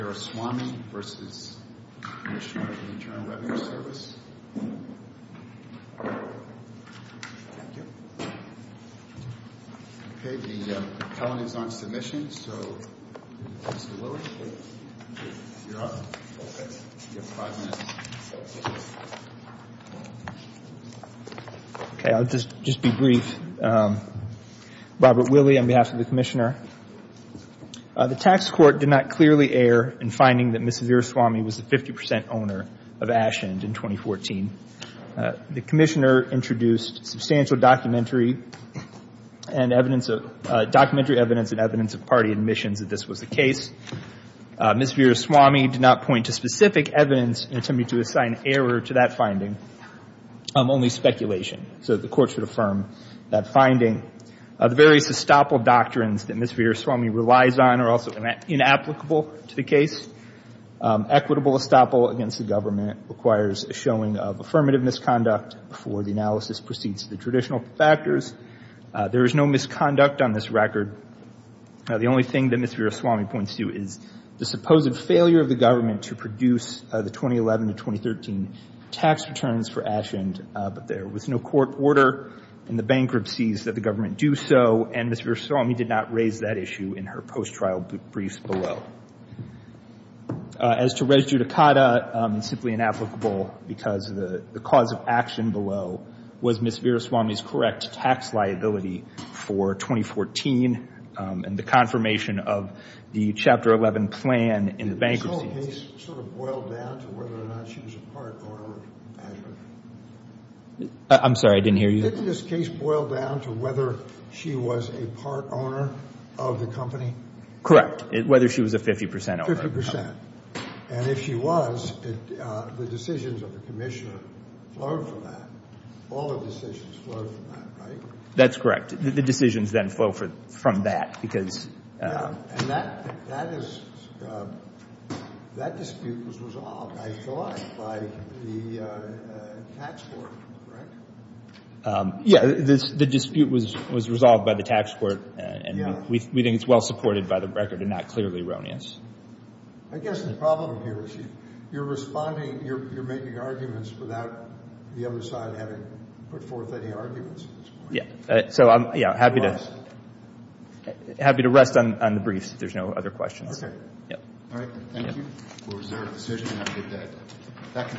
Service. Thank you. Okay, the penalty is on submission, so Mr. Lilley, you're up. Okay. You have five minutes. Okay, I'll just be brief. Robert Lilley on behalf of the Commissioner. The tax court did not clearly err in finding that Ms. Veeraswamy was the 50% owner of Ashend in 2014. The Commissioner introduced substantial documentary and evidence of, documentary evidence and evidence of party admissions that this was the case. Ms. Veeraswamy did not point to specific evidence in an attempt to assign error to that finding, only speculation, so the court should affirm that finding. The various estoppel doctrines that Ms. Veeraswamy relies on are also inapplicable to the case. Equitable estoppel against the government requires a showing of affirmative misconduct before the analysis proceeds to the traditional factors. There is no misconduct on this record. The only thing that Ms. Veeraswamy points to is the supposed failure of the government to produce the 2011 to 2013 tax returns for Ashend, but there was no court order in the bankruptcies that the government do so, and Ms. Veeraswamy did not raise that issue in her post-trial briefs below. As to res judicata, it's simply inapplicable because the cause of action below was Ms. Veeraswamy's correct tax liability for 2014 and the confirmation of the Chapter 11 plan in the bankruptcy. Did this whole case sort of boil down to whether or not she was a part owner of Azure? I'm sorry, I didn't hear you. Didn't this case boil down to whether she was a part owner of the company? Correct, whether she was a 50 percent owner. 50 percent. And if she was, the decisions of the commissioner flowed from that. All the decisions flowed from that, right? That's correct. The decisions then flow from that because… And that dispute was resolved, I thought, by the tax court, correct? Yeah, the dispute was resolved by the tax court, and we think it's well supported by the record and not clearly erroneous. I guess the problem here is you're responding, you're making arguments without the other side having put forth any arguments at this point. Yeah, so I'm happy to rest on the briefs if there's no other questions. Okay. Yep. All right, thank you. Was there a decision on the debt?